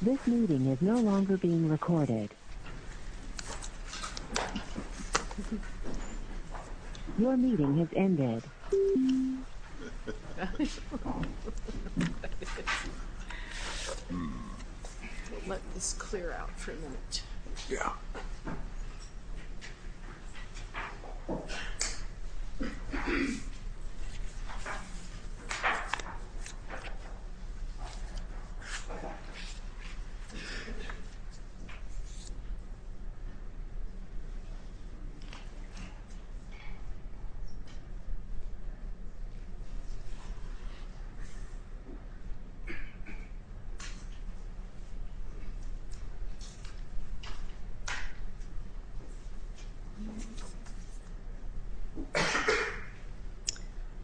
This meeting is no longer being recorded. Your meeting has ended. We will let this clear out for a minute.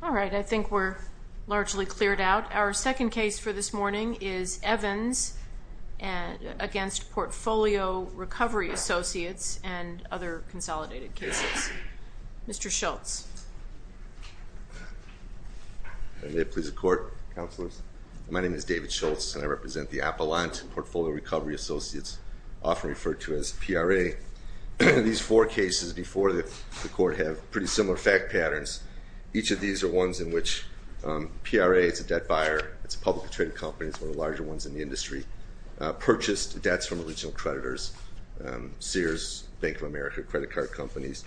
All right, I think we're largely cleared out. Our second case for this morning is Evans against Portfolio Recovery Associates and other consolidated cases. Mr. Schultz. My name is David Schultz, and I represent the Appellant and Portfolio Recovery Associates, often referred to as PRA. These four cases before the court have pretty similar fact patterns. Each of these are ones in which PRA is a debt buyer. It's a publicly traded company. It's one of the larger ones in the industry. Purchased debts from original creditors. Sears, Bank of America, credit card companies.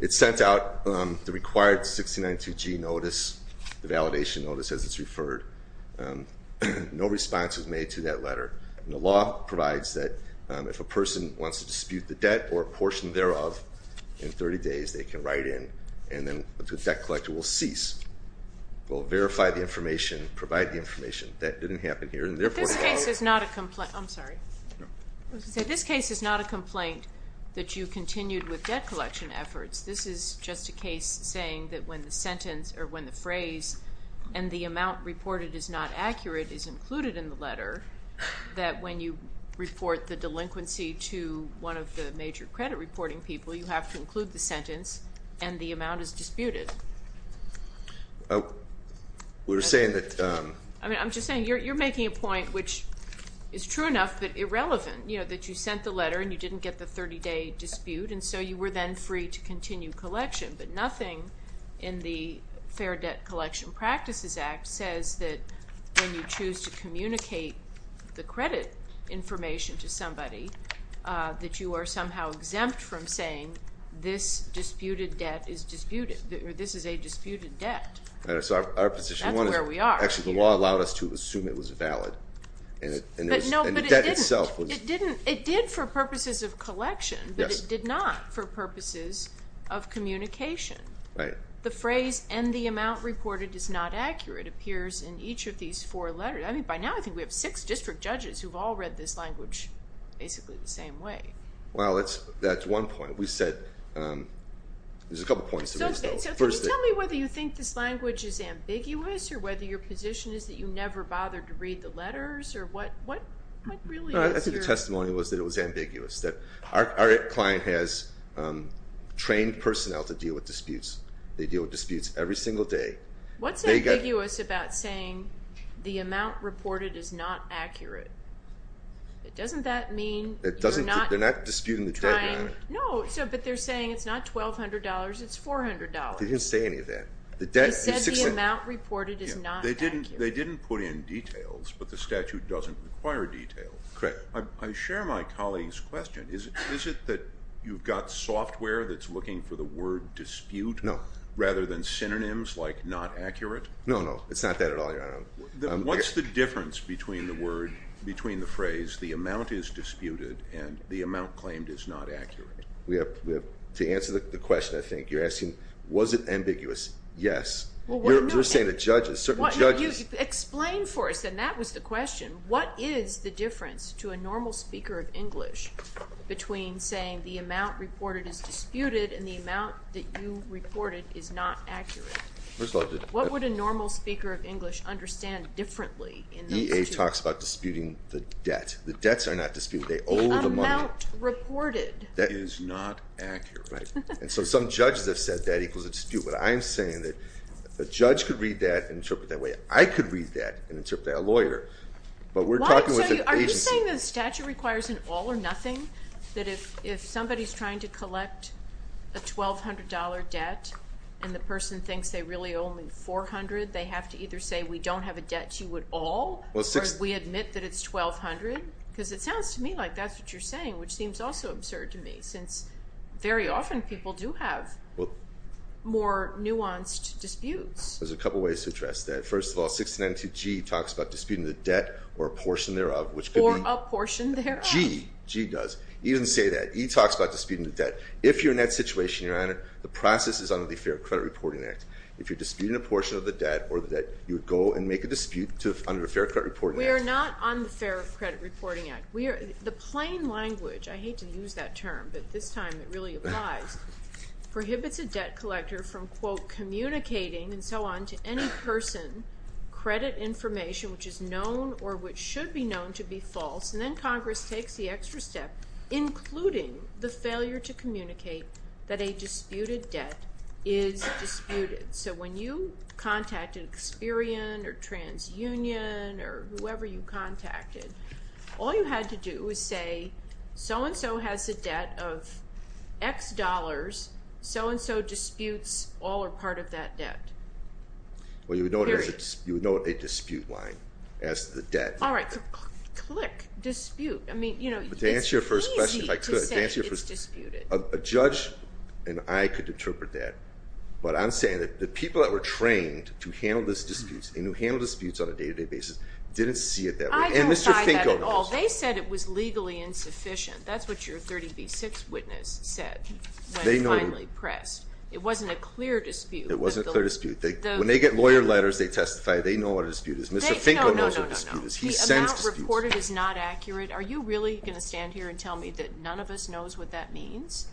It sent out the required 1692G notice, the validation notice as it's referred. No response was made to that letter. The law provides that if a person wants to dispute the debt or a portion thereof, in 30 days they can write in and then the debt collector will cease. We'll verify the information, provide the information. That didn't happen here in their portfolio. This case is not a complaint. I'm sorry. This case is not a complaint that you continued with debt collection efforts. This is just a case saying that when the sentence or when the phrase and the amount reported is not accurate is included in the letter, that when you report the delinquency to one of the major credit reporting people, you have to include the sentence and the amount is disputed. We're saying that. I'm just saying you're making a point which is true enough but irrelevant, you know, that you sent the letter and you didn't get the 30-day dispute and so you were then free to continue collection. But nothing in the Fair Debt Collection Practices Act says that when you choose to communicate the credit information to somebody, that you are somehow exempt from saying this disputed debt is disputed or this is a disputed debt. That's where we are. Actually, the law allowed us to assume it was valid. No, but it didn't. And the debt itself was. It did for purposes of collection. Yes. But it did not for purposes of communication. Right. The phrase and the amount reported is not accurate appears in each of these four letters. I mean, by now, I think we have six district judges who've all read this language basically the same way. Well, that's one point. We said there's a couple points. So can you tell me whether you think this language is ambiguous or whether your position is that you never bothered to read the letters or what really is your... No, I think the testimony was that it was ambiguous. That our client has trained personnel to deal with disputes. They deal with disputes every single day. What's ambiguous about saying the amount reported is not accurate? Doesn't that mean you're not... They're not disputing the debt. No, but they're saying it's not $1,200, it's $400. They didn't say any of that. They said the amount reported is not accurate. They didn't put in details, but the statute doesn't require details. Correct. I share my colleague's question. Is it that you've got software that's looking for the word dispute rather than synonyms like not accurate? No, no, it's not that at all, Your Honor. What's the difference between the phrase the amount is disputed and the amount claimed is not accurate? To answer the question, I think, you're asking was it ambiguous? Yes. You're saying to judges, certain judges... Explain for us, and that was the question. What is the difference to a normal speaker of English between saying the amount reported is disputed and the amount that you reported is not accurate? First of all... What would a normal speaker of English understand differently in those two? EA talks about disputing the debt. The debts are not disputed. They owe the money. The amount reported is not accurate. Right. And so some judges have said that equals a dispute, but I am saying that a judge could read that and interpret it that way. I could read that and interpret it like a lawyer, but we're talking with an agency. Are you saying the statute requires an all or nothing? That if somebody is trying to collect a $1,200 debt and the person thinks they really owe him $400, they have to either say we don't have a debt to you at all or we admit that it's $1,200? Because it sounds to me like that's what you're saying, which seems also absurd to me since very often people do have more nuanced disputes. There's a couple ways to address that. First of all, 692G talks about disputing the debt or a portion thereof. Or a portion thereof. G, G does, even say that. E talks about disputing the debt. If you're in that situation, Your Honor, the process is under the Fair Credit Reporting Act. If you're disputing a portion of the debt or the debt, you would go and make a dispute under the Fair Credit Reporting Act. We are not on the Fair Credit Reporting Act. The plain language, I hate to use that term, but this time it really applies, prohibits a debt collector from, quote, communicating and so on to any person credit information which is known or which should be known to be false, and then Congress takes the extra step, including the failure to communicate that a disputed debt is disputed. So when you contacted Experian or TransUnion or whoever you contacted, all you had to do was say, so-and-so has a debt of X dollars. So-and-so disputes all or part of that debt. Well, you would note a dispute line as the debt. All right. Click. Dispute. I mean, you know, it's easy to say it's disputed. To answer your first question, if I could. A judge and I could interpret that, but I'm saying that the people that were trained to handle these disputes and who handle disputes on a day-to-day basis didn't see it that way. I don't buy that at all. And Mr. Finko knows. They said it was legally insufficient. That's what your 30B6 witness said when finally pressed. It wasn't a clear dispute. It wasn't a clear dispute. When they get lawyer letters, they testify. They know what a dispute is. Mr. Finko knows what a dispute is. The amount reported is not accurate. Are you really going to stand here and tell me that none of us knows what that means?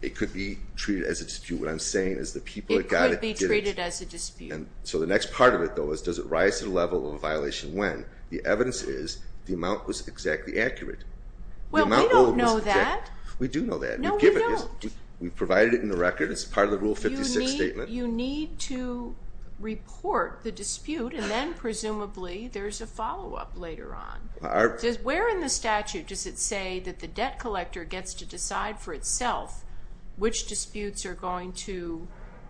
It could be treated as a dispute. What I'm saying is the people that got it did it. It could be treated as a dispute. So the next part of it, though, is does it rise to the level of a violation when? The evidence is the amount was exactly accurate. Well, we don't know that. We do know that. No, we don't. We provided it in the record. It's part of the Rule 56 statement. You need to report the dispute, and then presumably there's a follow-up later on. Where in the statute does it say that the debt collector gets to decide for itself which disputes are going to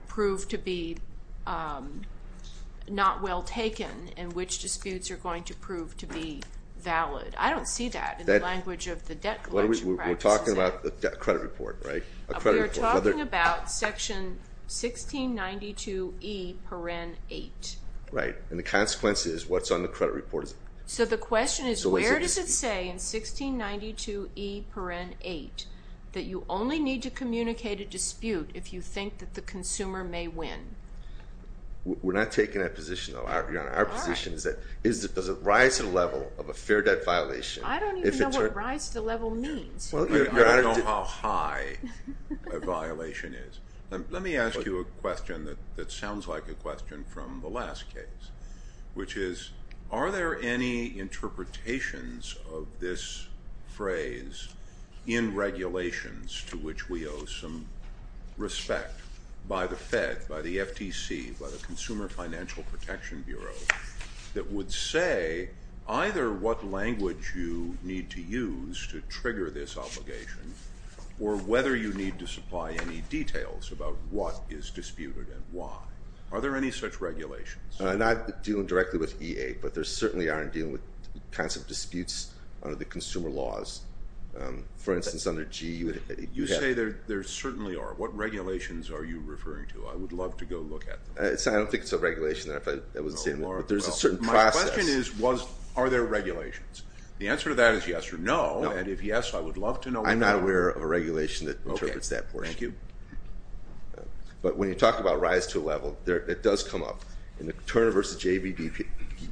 prove to be not well taken and which disputes are going to prove to be valid? I don't see that in the language of the debt collection practices. We're talking about a credit report, right? We are talking about Section 1692E-8. Right. And the consequence is what's on the credit report. So the question is where does it say in 1692E-8 that you only need to communicate a dispute if you think that the consumer may win? We're not taking that position, Your Honor. Our position is that does it rise to the level of a fair debt violation? I don't even know what rise to the level means. I don't know how high a violation is. Let me ask you a question that sounds like a question from the last case, which is are there any interpretations of this phrase in regulations to which we owe some respect by the Fed, by the FTC, by the Consumer Financial Protection Bureau that would say either what language you need to use to trigger this obligation or whether you need to supply any details about what is disputed and why. Are there any such regulations? I'm not dealing directly with EA, but there certainly are in dealing with kinds of disputes under the consumer laws. For instance, under GE. You say there certainly are. What regulations are you referring to? I would love to go look at them. I don't think it's a regulation. There's a certain process. My question is are there regulations? The answer to that is yes or no, and if yes, I would love to know why not. I'm not aware of a regulation that interprets that portion. Okay. Thank you. But when you talk about rise to a level, it does come up. In the Turner v. JVD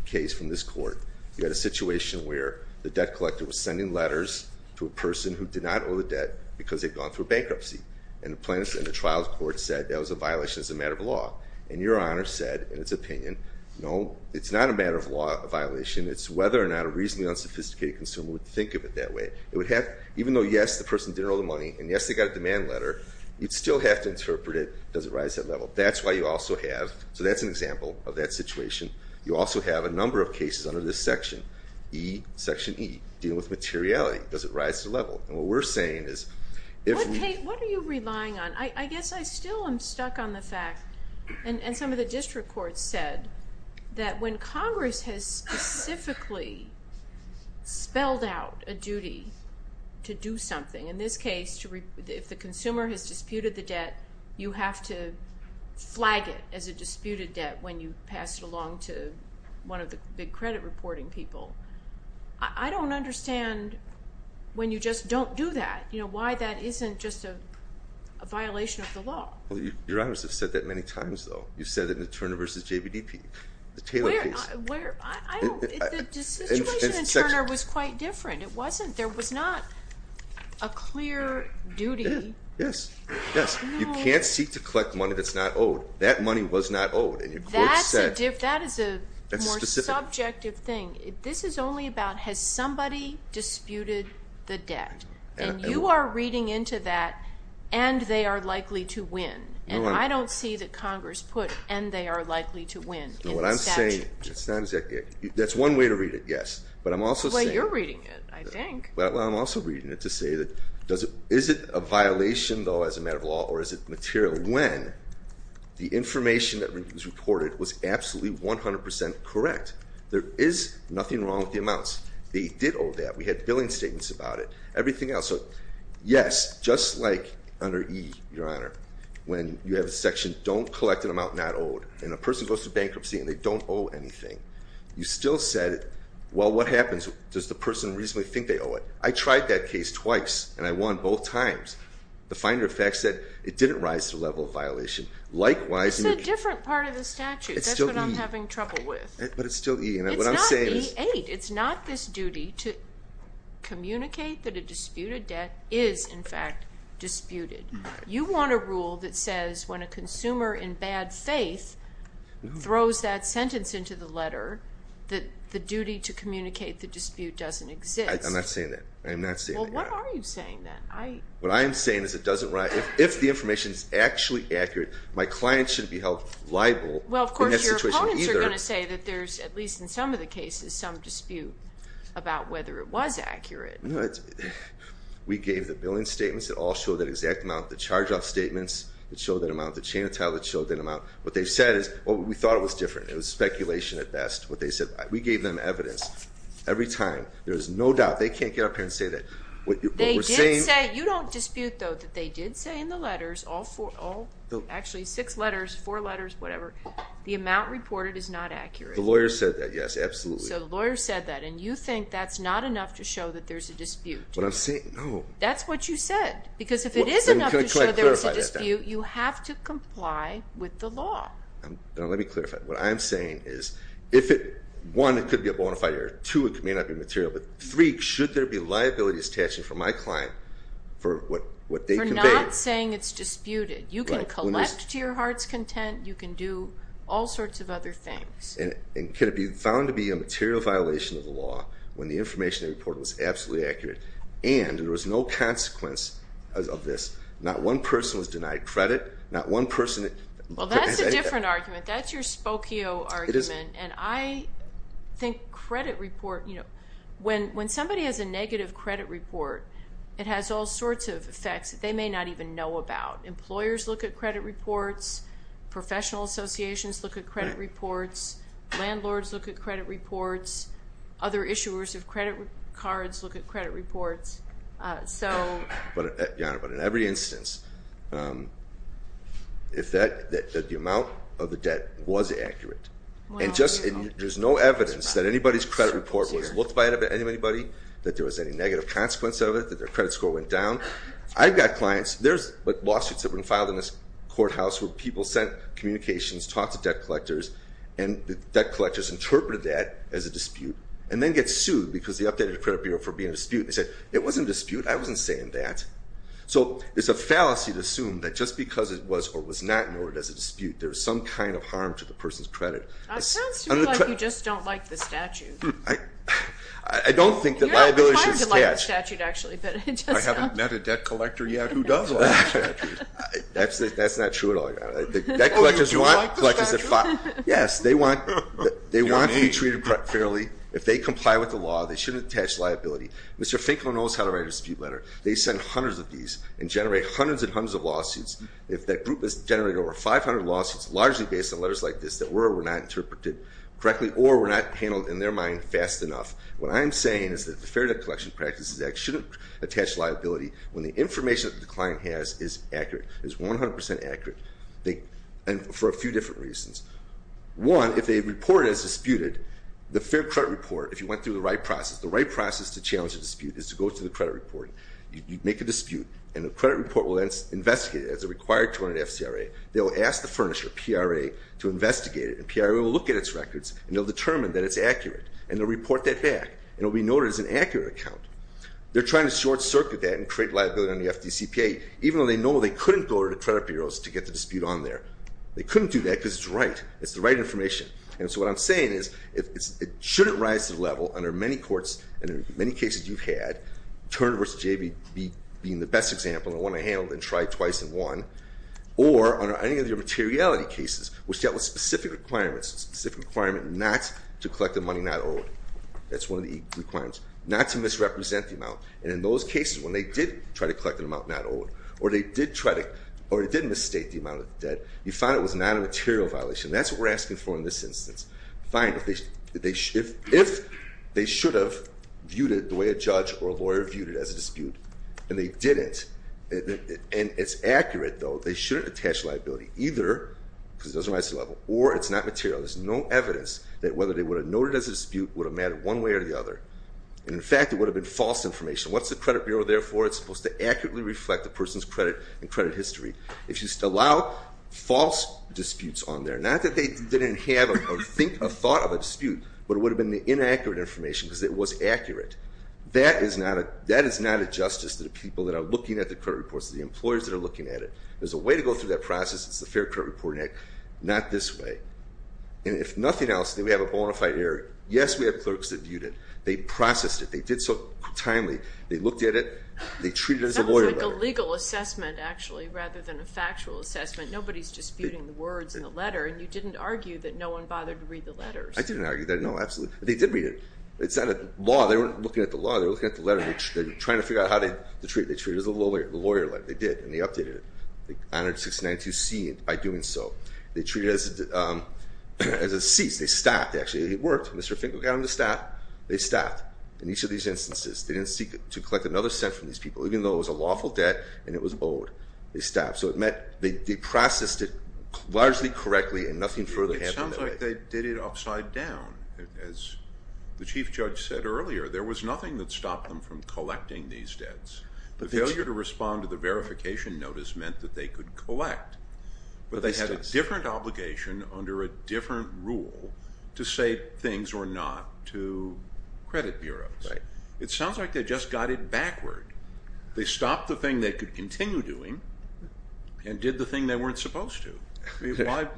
case from this court, you had a situation where the debt collector was sending letters to a person who did not owe the debt because they'd gone through bankruptcy, and the trial court said that was a violation as a matter of law. And your Honor said, in its opinion, no, it's not a matter of law, a violation. It's whether or not a reasonably unsophisticated consumer would think of it that way. Even though, yes, the person did owe the money, and, yes, they got a demand letter, you'd still have to interpret it. Does it rise to that level? That's why you also have, so that's an example of that situation. You also have a number of cases under this section, E, Section E, dealing with materiality. Does it rise to the level? And what we're saying is if we- What are you relying on? I guess I still am stuck on the fact, and some of the district courts said, that when Congress has specifically spelled out a duty to do something, in this case, if the consumer has disputed the debt, you have to flag it as a disputed debt when you pass it along to one of the big credit reporting people. I don't understand when you just don't do that, why that isn't just a violation of the law. Well, your honors have said that many times, though. You said it in the Turner v. JVDP, the Taylor case. Where? The situation in Turner was quite different. It wasn't. There was not a clear duty. Yes. Yes. You can't seek to collect money that's not owed. That money was not owed, and your courts said- That is a more subjective thing. This is only about has somebody disputed the debt, and you are reading into that, and they are likely to win. And I don't see that Congress put, and they are likely to win. What I'm saying, that's one way to read it, yes. But I'm also saying- The way you're reading it, I think. Well, I'm also reading it to say, is it a violation, though, as a matter of law, or is it material when the information that was reported was absolutely 100% correct? There is nothing wrong with the amounts. They did owe debt. We had billing statements about it. Everything else. So, yes, just like under E, Your Honor, when you have a section, don't collect an amount not owed, and a person goes to bankruptcy, and they don't owe anything, you still said, well, what happens? Does the person reasonably think they owe it? I tried that case twice, and I won both times. The Finder of Facts said it didn't rise to the level of violation. It's a different part of the statute. It's still E. That's what I'm having trouble with. But it's still E. It's not E8. It's not this duty to communicate that a dispute of debt is, in fact, disputed. You want a rule that says when a consumer in bad faith throws that sentence into the letter, that the duty to communicate the dispute doesn't exist. I'm not saying that. I'm not saying that. Well, what are you saying then? What I am saying is it doesn't rise. If the information is actually accurate, my client shouldn't be held liable in that situation either. I just want to say that there's, at least in some of the cases, some dispute about whether it was accurate. We gave the billing statements that all show that exact amount. The charge-off statements that show that amount. The chain of title that showed that amount. What they said is, well, we thought it was different. It was speculation at best. What they said, we gave them evidence. Every time, there is no doubt. They can't get up here and say that. They did say, you don't dispute, though, that they did say in the letters, actually six letters, four letters, whatever, the amount reported is not accurate. The lawyer said that. Yes, absolutely. So, the lawyer said that. And you think that's not enough to show that there's a dispute. What I'm saying, no. That's what you said. Because if it is enough to show there is a dispute, you have to comply with the law. Let me clarify. What I'm saying is, one, it could be a bonafide error. Two, it may not be material. But three, should there be liabilities attached to my client for what they conveyed? I'm not saying it's disputed. You can collect to your heart's content. You can do all sorts of other things. And could it be found to be a material violation of the law when the information they reported was absolutely accurate and there was no consequence of this? Not one person was denied credit. Not one person. Well, that's a different argument. That's your Spokio argument. And I think credit report, you know, when somebody has a negative credit report, it has all sorts of effects that they may not even know about. Employers look at credit reports. Professional associations look at credit reports. Landlords look at credit reports. Other issuers of credit cards look at credit reports. But, Your Honor, in every instance, if the amount of the debt was accurate and there's no evidence that anybody's credit report was looked by anybody, that there was any negative consequence of it, that their credit score went down, I've got clients. There's lawsuits that have been filed in this courthouse where people sent communications, talked to debt collectors, and the debt collectors interpreted that as a dispute and then get sued because they updated the credit bureau for being a dispute. They said, It wasn't a dispute. I wasn't saying that. So it's a fallacy to assume that just because it was or was not noted as a dispute, there was some kind of harm to the person's credit. That sounds to me like you just don't like the statute. I don't think that liability should be attached. I haven't met a debt collector yet who does like the statute. That's not true at all, Your Honor. Oh, you do like the statute? Yes. They want to be treated fairly. If they comply with the law, they shouldn't attach liability. Mr. Finkel knows how to write a dispute letter. They send hundreds of these and generate hundreds and hundreds of lawsuits. If that group has generated over 500 lawsuits largely based on letters like this that were or were not interpreted correctly or were not handled, in their mind, fast enough, what I'm saying is that the Fair Debt Collection Practices Act shouldn't attach liability when the information that the client has is accurate, is 100% accurate, and for a few different reasons. One, if a report is disputed, the fair credit report, if you went through the right process, the right process to challenge a dispute is to go through the credit report. You make a dispute, and the credit report will then investigate it as a required torrent at FCRA. They will ask the furnisher, PRA, to investigate it, and PRA will look at its records, and they'll determine that it's accurate, and they'll report that back, and it will be noted as an accurate account. They're trying to short-circuit that and create liability on the FDCPA, even though they know they couldn't go to the credit bureaus to get the dispute on there. They couldn't do that because it's right. It's the right information. And so what I'm saying is it shouldn't rise to the level under many courts and in many cases you've had, Turner v. J.B. being the best example and the one I handled and tried twice and won, or under any of your materiality cases, which dealt with specific requirements, specific requirement not to collect the money not owed. That's one of the requirements. Not to misrepresent the amount, and in those cases when they did try to collect the amount not owed, or they did try to, or they did misstate the amount of the debt, you found it was not a material violation. That's what we're asking for in this instance. Find if they should have viewed it the way a judge or a lawyer viewed it as a dispute, and they didn't, and it's accurate, though, they shouldn't attach liability either, because it doesn't rise to the level, or it's not material. There's no evidence that whether they would have noted it as a dispute would have mattered one way or the other. And, in fact, it would have been false information. What's the credit bureau there for? It's supposed to accurately reflect the person's credit and credit history. If you allow false disputes on there, not that they didn't have or think or thought of a dispute, but it would have been the inaccurate information because it was accurate. That is not a justice to the people that are looking at the credit reports, to the employers that are looking at it. There's a way to go through that process. It's the Fair Credit Reporting Act. Not this way. And if nothing else, then we have a bona fide error. Yes, we have clerks that viewed it. They processed it. They did so timely. They looked at it. They treated it as a lawyer. That was like a legal assessment, actually, rather than a factual assessment. Nobody's disputing the words in the letter, and you didn't argue that no one bothered to read the letters. I didn't argue that. No, absolutely. They did read it. It's not a law. They weren't looking at the law. They were looking at the letter. They were trying to figure out how to treat it. They treated it as a lawyer. They did, and they updated it. They honored 692C by doing so. They treated it as a cease. They stopped, actually. It worked. Mr. Finkel got them to stop. They stopped in each of these instances. They didn't seek to collect another cent from these people, even though it was a lawful debt and it was owed. They stopped. So they processed it largely correctly, and nothing further happened that way. It sounds like they did it upside down. As the Chief Judge said earlier, there was nothing that stopped them from collecting these debts. The failure to respond to the verification notice meant that they could collect, but they had a different obligation under a different rule to say things or not to credit bureaus. It sounds like they just got it backward. They stopped the thing they could continue doing and did the thing they weren't supposed to.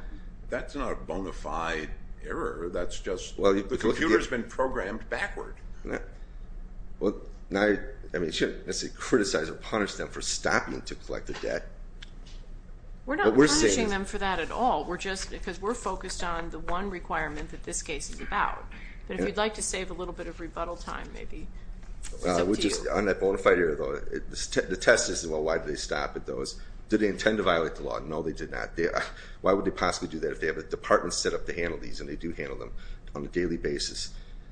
That's not a bona fide error. That's just the computer has been programmed backward. Well, now you shouldn't criticize or punish them for stopping to collect the debt. We're not punishing them for that at all. We're just, because we're focused on the one requirement that this case is about. But if you'd like to save a little bit of rebuttal time, maybe, it's up to you. On that bona fide error, though, the test is, well, why did they stop? Did they intend to violate the law? No, they did not. Why would they possibly do that if they have a department set up to handle these and they do handle them on a daily basis?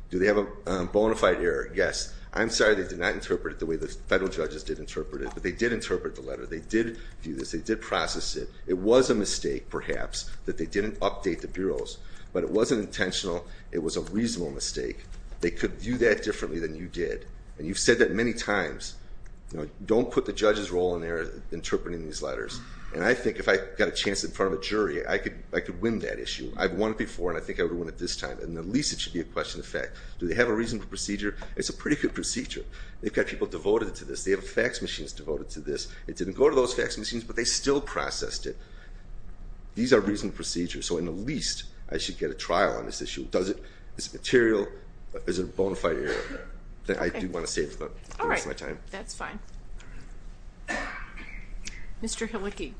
Do they have a bona fide error? Yes. I'm sorry they did not interpret it the way the federal judges did interpret it, but they did interpret the letter. They did do this. They did process it. It was a mistake, perhaps, that they didn't update the bureaus, but it wasn't intentional. It was a reasonable mistake. They could view that differently than you did. And you've said that many times. Don't put the judge's role in there interpreting these letters. And I think if I got a chance in front of a jury, I could win that issue. I've won it before, and I think I would have won it this time. And at least it should be a question of fact. Do they have a reasonable procedure? It's a pretty good procedure. They've got people devoted to this. They have fax machines devoted to this. It didn't go to those fax machines, but they still processed it. These are reasonable procedures. So, at least, I should get a trial on this issue. Does it? Is it material? Is it a bona fide error? I do want to save the rest of my time. All right. That's fine. All right. Mr. Helicki.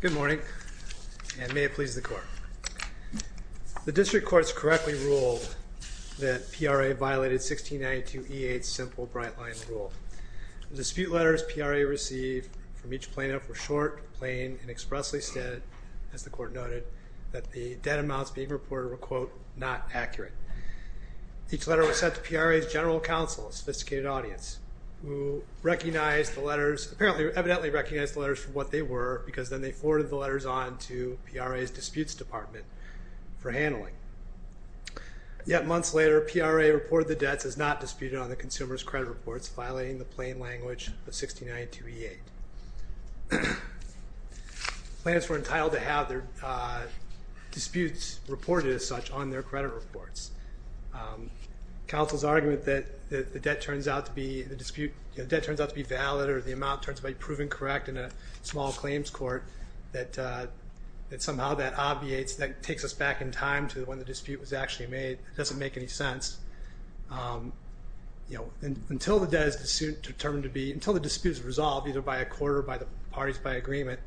Good morning, and may it please the Court. The district courts correctly ruled that PRA violated 1692E8's simple bright-line rule. The dispute letters PRA received from each plaintiff were short, plain, and expressly stated, as the Court noted, that the debt amounts being reported were, quote, not accurate. Each letter was sent to PRA's general counsel, a sophisticated audience, who evidently recognized the letters for what they were, because then they forwarded the letters on to PRA's disputes department for handling. Yet months later, PRA reported the debts as not disputed on the consumer's credit reports, violating the plain language of 1692E8. Plaintiffs were entitled to have their disputes reported as such on their credit reports. Counsel's argument that the debt turns out to be valid, or the amount turns out to be proven correct in a small claims court, that somehow that obviates, that takes us back in time to when the dispute was actually made, doesn't make any sense. You know, until the debt is determined to be, until the dispute is resolved, either by a court or by the parties by agreement,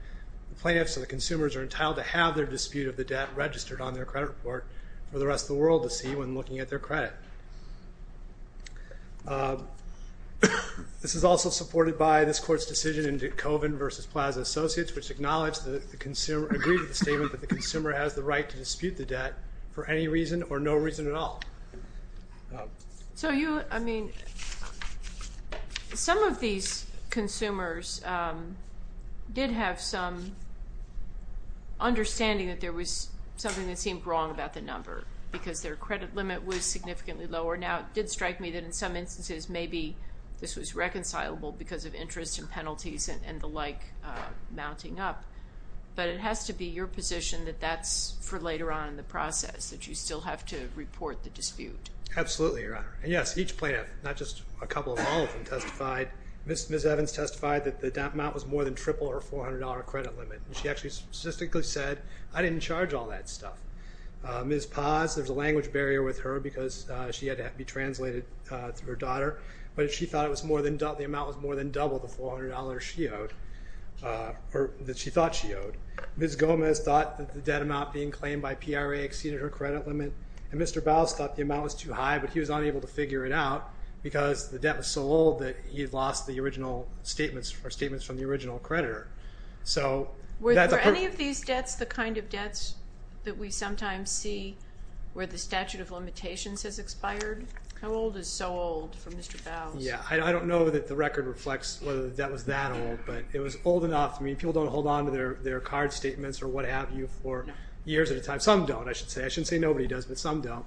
the plaintiffs and the consumers are entitled to have their dispute of the debt registered on their credit report for the rest of the world to see when looking at their credit. This is also supported by this court's decision in DeKoven v. Plaza Associates, which acknowledged that the consumer, agreed to the statement that the consumer has the right to dispute the debt for any reason or no reason at all. So you, I mean, some of these consumers did have some understanding that there was something that seemed wrong about the number, because their credit limit was significantly lower. Now, it did strike me that in some instances, maybe this was reconcilable because of interest and penalties and the like mounting up. But it has to be your position that that's for later on in the process, that you still have to report the dispute. Absolutely, Your Honor. And yes, each plaintiff, not just a couple, all of them testified. Ms. Evans testified that the amount was more than triple her $400 credit limit. She actually statistically said, I didn't charge all that stuff. Ms. Paz, there's a language barrier with her because she had to be translated through her daughter. But she thought it was more than, the amount was more than double the $400 she owed, or that she thought she owed. Ms. Gomez thought that the debt amount being claimed by PRA exceeded her credit limit. And Mr. Baus thought the amount was too high, but he was unable to figure it out, because the debt was so low that he had lost the original statements, or statements from the original creditor. Were any of these debts the kind of debts that we sometimes see where the statute of limitations has expired? How old is so old for Mr. Baus? Yeah, I don't know that the record reflects whether the debt was that old, but it was old enough. I mean, people don't hold onto their card statements or what have you for years at a time. Some don't, I should say. I shouldn't say nobody does, but some don't.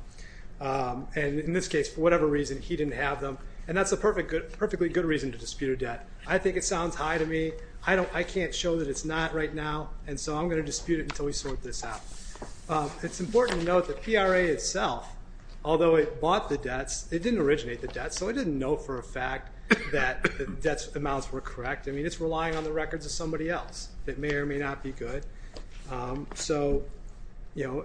And in this case, for whatever reason, he didn't have them. And that's a perfectly good reason to dispute a debt. I think it sounds high to me. I can't show that it's not right now. And so I'm going to dispute it until we sort this out. It's important to note that PRA itself, although it bought the debts, it didn't originate the debts, so it didn't know for a fact that the debt amounts were correct. I mean, it's relying on the records of somebody else that may or may not be good.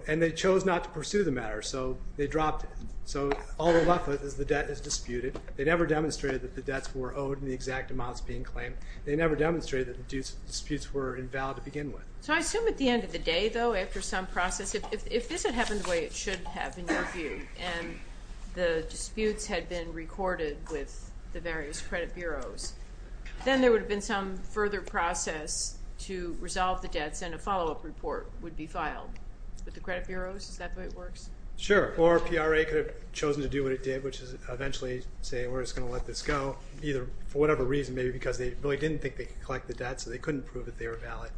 And they chose not to pursue the matter, so they dropped it. So all that's left is the debt is disputed. They never demonstrated that the debts were owed and the exact amounts being claimed. They never demonstrated that disputes were invalid to begin with. So I assume at the end of the day, though, after some process, if this had happened the way it should have, in your view, and the disputes had been recorded with the various credit bureaus, then there would have been some further process to resolve the debts and a follow-up report would be filed with the credit bureaus. Is that the way it works? Sure. Or PRA could have chosen to do what it did, which is eventually say, we're just going to let this go, either for whatever reason, maybe because they really didn't think they could collect the debts and they couldn't prove that they were valid.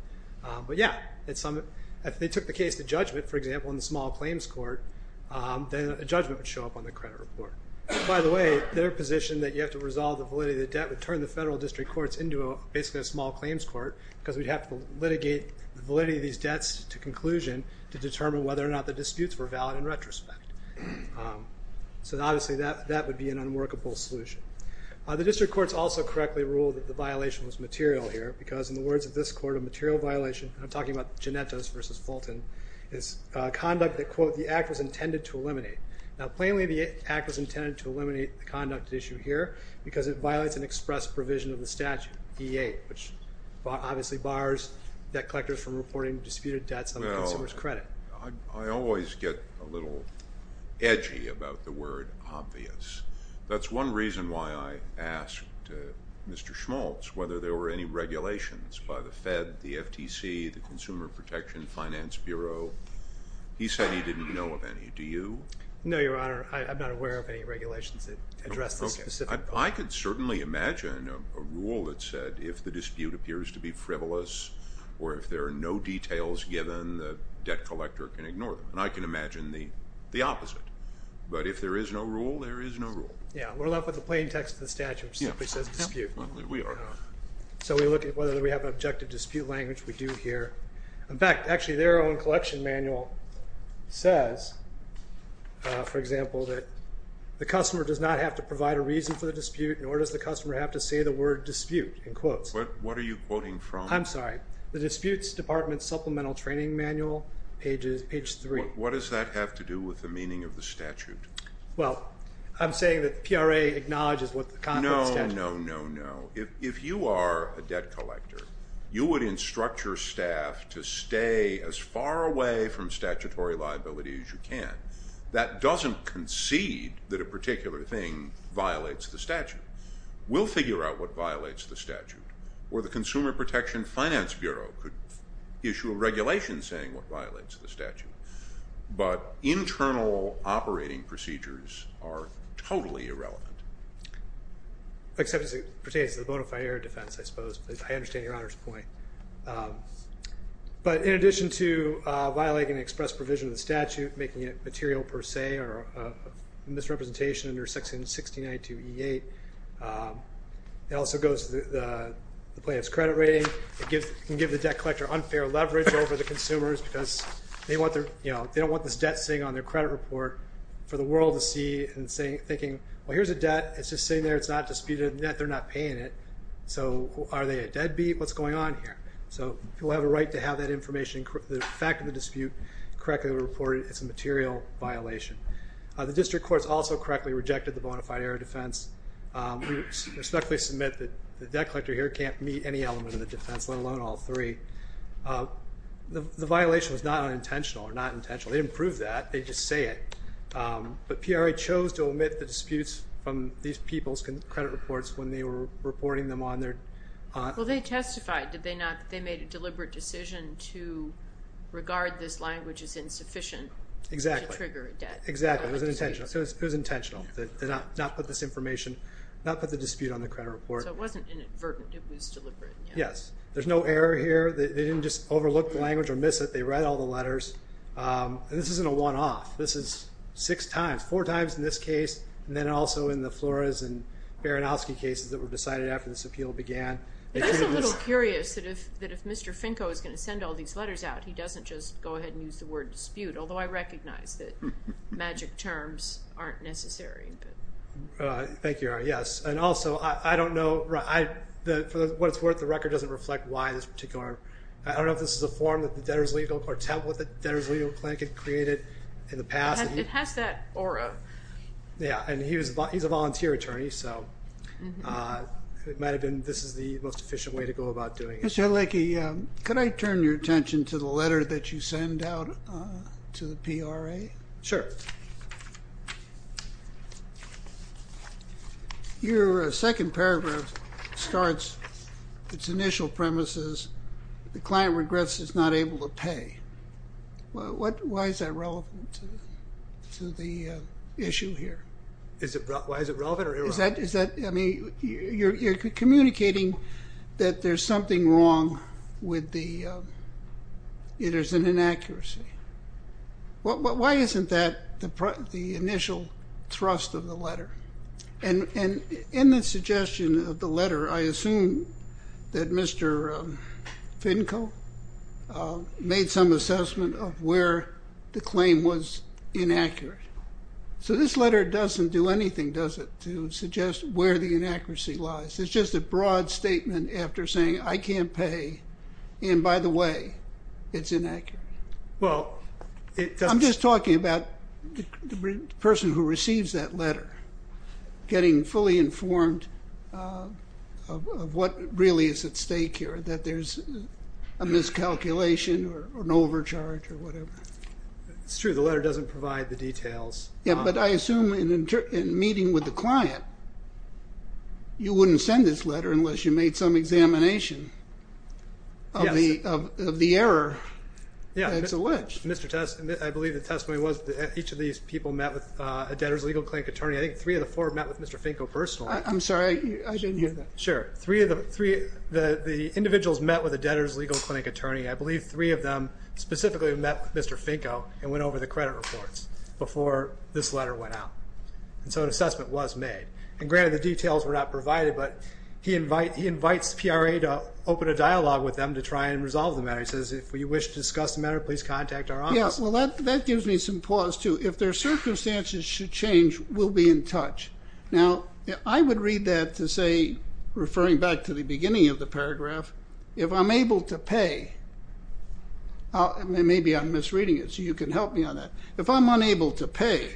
But, yeah, if they took the case to judgment, for example, in the small claims court, then a judgment would show up on the credit report. By the way, their position that you have to resolve the validity of the debt would turn the federal district courts into basically a small claims court because we'd have to litigate the validity of these debts to conclusion to determine whether or not the disputes were valid in retrospect. So, obviously, that would be an unworkable solution. The district courts also correctly ruled that the violation was material here because, in the words of this court, a material violation, I'm talking about Ginettos v. Fulton, is conduct that, quote, the act was intended to eliminate. Now, plainly the act was intended to eliminate the conduct at issue here because it violates an express provision of the statute, E-8, which obviously bars debt collectors from reporting disputed debts on the consumer's credit. Well, I always get a little edgy about the word obvious. That's one reason why I asked Mr. Schmaltz whether there were any regulations by the Fed, the FTC, the Consumer Protection Finance Bureau. He said he didn't know of any. Do you? No, Your Honor, I'm not aware of any regulations that address this specific point. Well, I could certainly imagine a rule that said if the dispute appears to be frivolous or if there are no details given, the debt collector can ignore them. And I can imagine the opposite. But if there is no rule, there is no rule. Yeah, we're left with the plain text of the statute, which simply says dispute. We are. So we look at whether we have an objective dispute language. We do here. In fact, actually, their own collection manual says, for example, that the customer does not have to provide a reason for the dispute, nor does the customer have to say the word dispute in quotes. What are you quoting from? I'm sorry. The Disputes Department Supplemental Training Manual, page 3. What does that have to do with the meaning of the statute? Well, I'm saying that the PRA acknowledges what the statute says. No, no, no, no. If you are a debt collector, you would instruct your staff to stay as far away from statutory liability as you can. That doesn't concede that a particular thing violates the statute. We'll figure out what violates the statute. Or the Consumer Protection Finance Bureau could issue a regulation saying what violates the statute. But internal operating procedures are totally irrelevant. Except as it pertains to the bona fide area of defense, I suppose. I understand Your Honor's point. But in addition to violating an express provision of the statute, making it material per se or a misrepresentation under section 1692E8, it also goes to the plaintiff's credit rating. It can give the debt collector unfair leverage over the consumers because they don't want this debt sitting on their credit report for the world to see and thinking, well, here's a debt. It's just sitting there. It's not disputed. They're not paying it. So are they a deadbeat? What's going on here? So people have a right to have that information. The fact of the dispute correctly reported as a material violation. The district courts also correctly rejected the bona fide area of defense. We respectfully submit that the debt collector here can't meet any element of the defense, let alone all three. The violation was not unintentional or not intentional. They didn't prove that. They just say it. But PRA chose to omit the disputes from these people's credit reports when they were reporting them on their own. Well, they testified, did they not, that they made a deliberate decision to regard this language as insufficient to trigger a debt. Exactly. It was intentional. They did not put this information, not put the dispute on the credit report. So it wasn't inadvertent. It was deliberate. Yes. There's no error here. They didn't just overlook the language or miss it. They read all the letters. This isn't a one-off. This is six times, four times in this case, and then also in the Flores and Baranowski cases that were decided after this appeal began. I'm just a little curious that if Mr. Finko is going to send all these letters out, he doesn't just go ahead and use the word dispute, although I recognize that magic terms aren't necessary. Thank you. Yes. And also, I don't know. For what it's worth, the record doesn't reflect why this particular. I don't know if this is a form that the debtors legal court template that the debtors legal clinic had created in the past. It has that aura. Yes, and he's a volunteer attorney, so it might have been this is the most efficient way to go about doing it. Mr. Halecki, could I turn your attention to the letter that you send out to the PRA? Sure. Your second paragraph starts, its initial premise is the client regrets is not able to pay. Why is that relevant to the issue here? Why is it relevant? You're communicating that there's something wrong with the inaccuracy. Why isn't that the initial thrust of the letter? And in the suggestion of the letter, I assume that Mr. Finkel made some assessment of where the claim was inaccurate. So this letter doesn't do anything, does it, to suggest where the inaccuracy lies. It's just a broad statement after saying I can't pay, and by the way, it's inaccurate. I'm just talking about the person who receives that letter getting fully informed of what really is at stake here, that there's a miscalculation or an overcharge or whatever. It's true. The letter doesn't provide the details. But I assume in meeting with the client, you wouldn't send this letter unless you made some examination of the error. It's alleged. I believe the testimony was that each of these people met with a debtor's legal clinic attorney. I think three of the four met with Mr. Finkel personally. I'm sorry. I didn't hear that. Sure. The individuals met with a debtor's legal clinic attorney. I believe three of them specifically met with Mr. Finkel and went over the credit reports before this letter went out. And so an assessment was made. And granted, the details were not provided, but he invites the PRA to open a dialogue with them to try and resolve the matter. He says, if you wish to discuss the matter, please contact our office. Yeah, well, that gives me some pause, too. If their circumstances should change, we'll be in touch. Now, I would read that to say, referring back to the beginning of the paragraph, if I'm able to pay. Maybe I'm misreading it, so you can help me on that. If I'm unable to pay,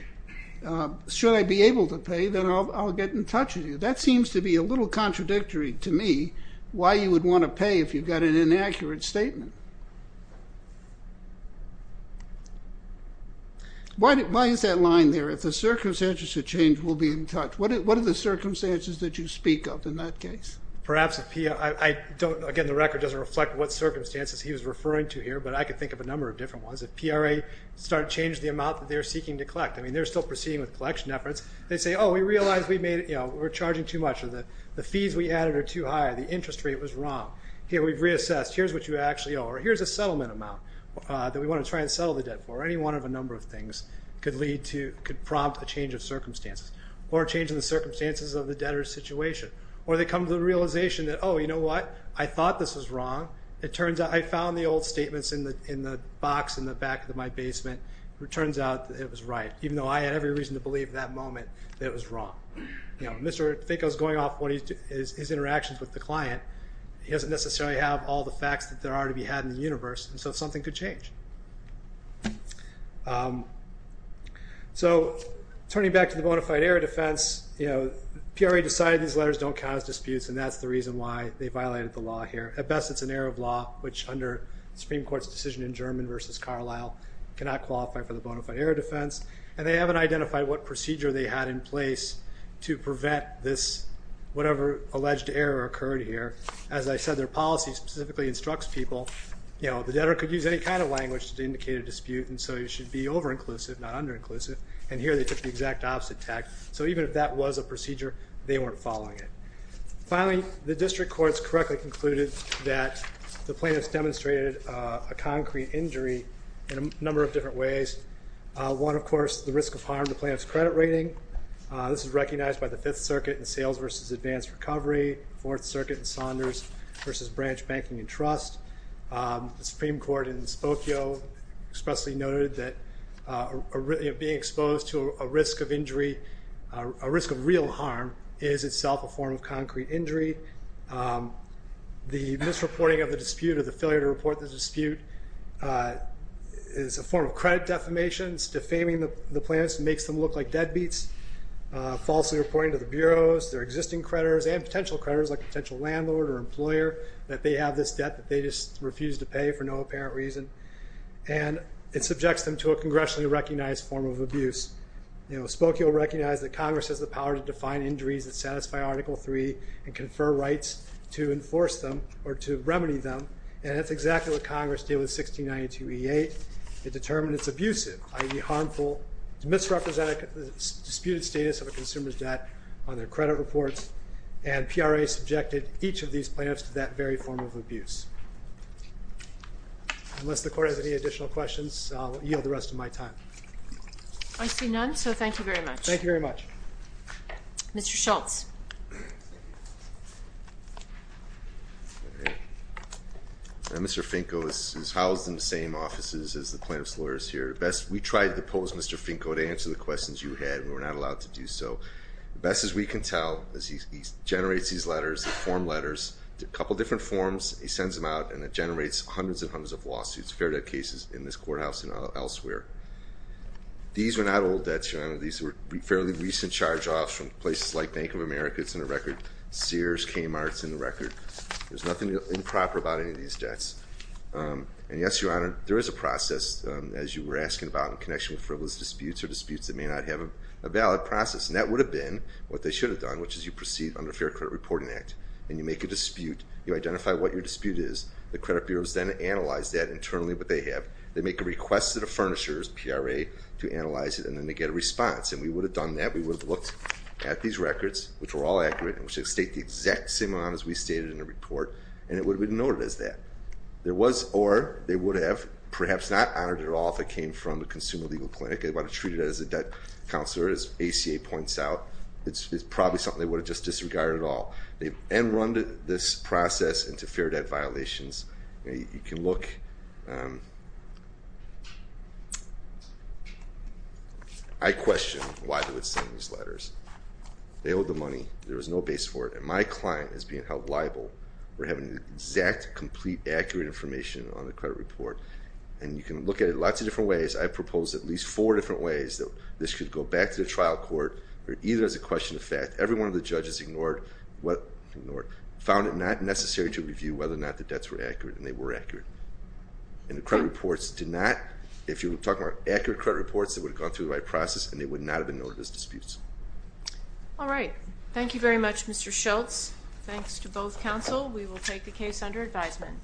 should I be able to pay, then I'll get in touch with you. That seems to be a little contradictory to me, why you would want to pay if you've got an inaccurate statement. Why is that line there, if the circumstances should change, we'll be in touch? What are the circumstances that you speak of in that case? Perhaps, again, the record doesn't reflect what circumstances he was referring to here, but I can think of a number of different ones. If PRA started to change the amount that they're seeking to collect, I mean, they're still proceeding with collection efforts. They say, oh, we realize we're charging too much, or the fees we added are too high, the interest rate was wrong. Here, we've reassessed, here's what you actually owe, or here's a settlement amount that we want to try and settle the debt for. Any one of a number of things could prompt a change of circumstances, or a change in the circumstances of the debtor's situation. Or they come to the realization that, oh, you know what, I thought this was wrong. It turns out I found the old statements in the box in the back of my basement. It turns out that it was right, even though I had every reason to believe at that moment that it was wrong. Mr. Finko's going off his interactions with the client. He doesn't necessarily have all the facts that there are to be had in the universe, and so something could change. So turning back to the bona fide error defense, PRA decided these letters don't cause disputes, and that's the reason why they violated the law here. At best, it's an error of law, which under the Supreme Court's decision in German versus Carlisle, cannot qualify for the bona fide error defense. And they haven't identified what procedure they had in place to prevent this, whatever alleged error occurred here. As I said, their policy specifically instructs people, you know, the debtor could use any kind of language to indicate a dispute, and so you should be over-inclusive, not under-inclusive, and here they took the exact opposite tact. So even if that was a procedure, they weren't following it. Finally, the district courts correctly concluded that the plaintiffs demonstrated a concrete injury in a number of different ways. One, of course, the risk of harm to plaintiffs' credit rating. This is recognized by the Fifth Circuit in sales versus advanced recovery, Fourth Circuit in Saunders versus branch banking and trust. The Supreme Court in Spokio expressly noted that being exposed to a risk of injury, a risk of real harm, is itself a form of concrete injury. The misreporting of the dispute or the failure to report the dispute is a form of credit defamation. It's defaming the plaintiffs and makes them look like deadbeats, falsely reporting to the bureaus, their existing creditors, and potential creditors, like a potential landlord or employer, that they have this debt that they just refuse to pay for no apparent reason, and it subjects them to a congressionally recognized form of abuse. Spokio recognized that Congress has the power to define injuries that satisfy Article III and confer rights to enforce them or to remedy them, and that's exactly what Congress did with 1692E8. It determined it's abusive, i.e., harmful to misrepresent the disputed status of a consumer's debt on their credit reports, and PRA subjected each of these plaintiffs to that very form of abuse. Unless the Court has any additional questions, I'll yield the rest of my time. I see none, so thank you very much. Thank you very much. Mr. Schultz. Mr. Finko is housed in the same offices as the plaintiff's lawyers here. We tried to pose Mr. Finko to answer the questions you had. We were not allowed to do so. The best that we can tell is he generates these letters, these form letters, a couple different forms. He sends them out, and it generates hundreds and hundreds of lawsuits, fair debt cases, in this courthouse and elsewhere. These were not old debts, Your Honor. These were fairly recent charge-offs from places like Bank of America. It's in the record. Sears, Kmart, it's in the record. There's nothing improper about any of these debts. And, yes, Your Honor, there is a process, as you were asking about, in connection with frivolous disputes or disputes that may not have a valid process, and that would have been what they should have done, which is you proceed under Fair Credit Reporting Act, and you make a dispute. You identify what your dispute is. The credit bureaus then analyze that internally, what they have. They make a request to the furnishers, PRA, to analyze it, and then they get a response. And we would have done that. We would have looked at these records, which were all accurate, and we should have stated the exact same amount as we stated in the report, and it would have been noted as that. There was, or they would have perhaps not honored it at all if it came from a consumer legal clinic. They would have treated it as a debt counselor, as ACA points out. It's probably something they would have just disregarded at all. And run this process into fair debt violations. You can look. I question why they would send these letters. They owe the money. There was no base for it, and my client is being held liable for having the exact, complete, accurate information on the credit report. And you can look at it lots of different ways. I proposed at least four different ways that this could go back to the trial court, or either as a question of fact. Every one of the judges ignored, found it not necessary to review whether or not the debts were accurate, and they were accurate. And the credit reports did not, if you're talking about accurate credit reports, they would have gone through the right process, and they would not have been noted as disputes. All right. Thank you very much, Mr. Schultz. Thanks to both counsel. We will take the case under advisement.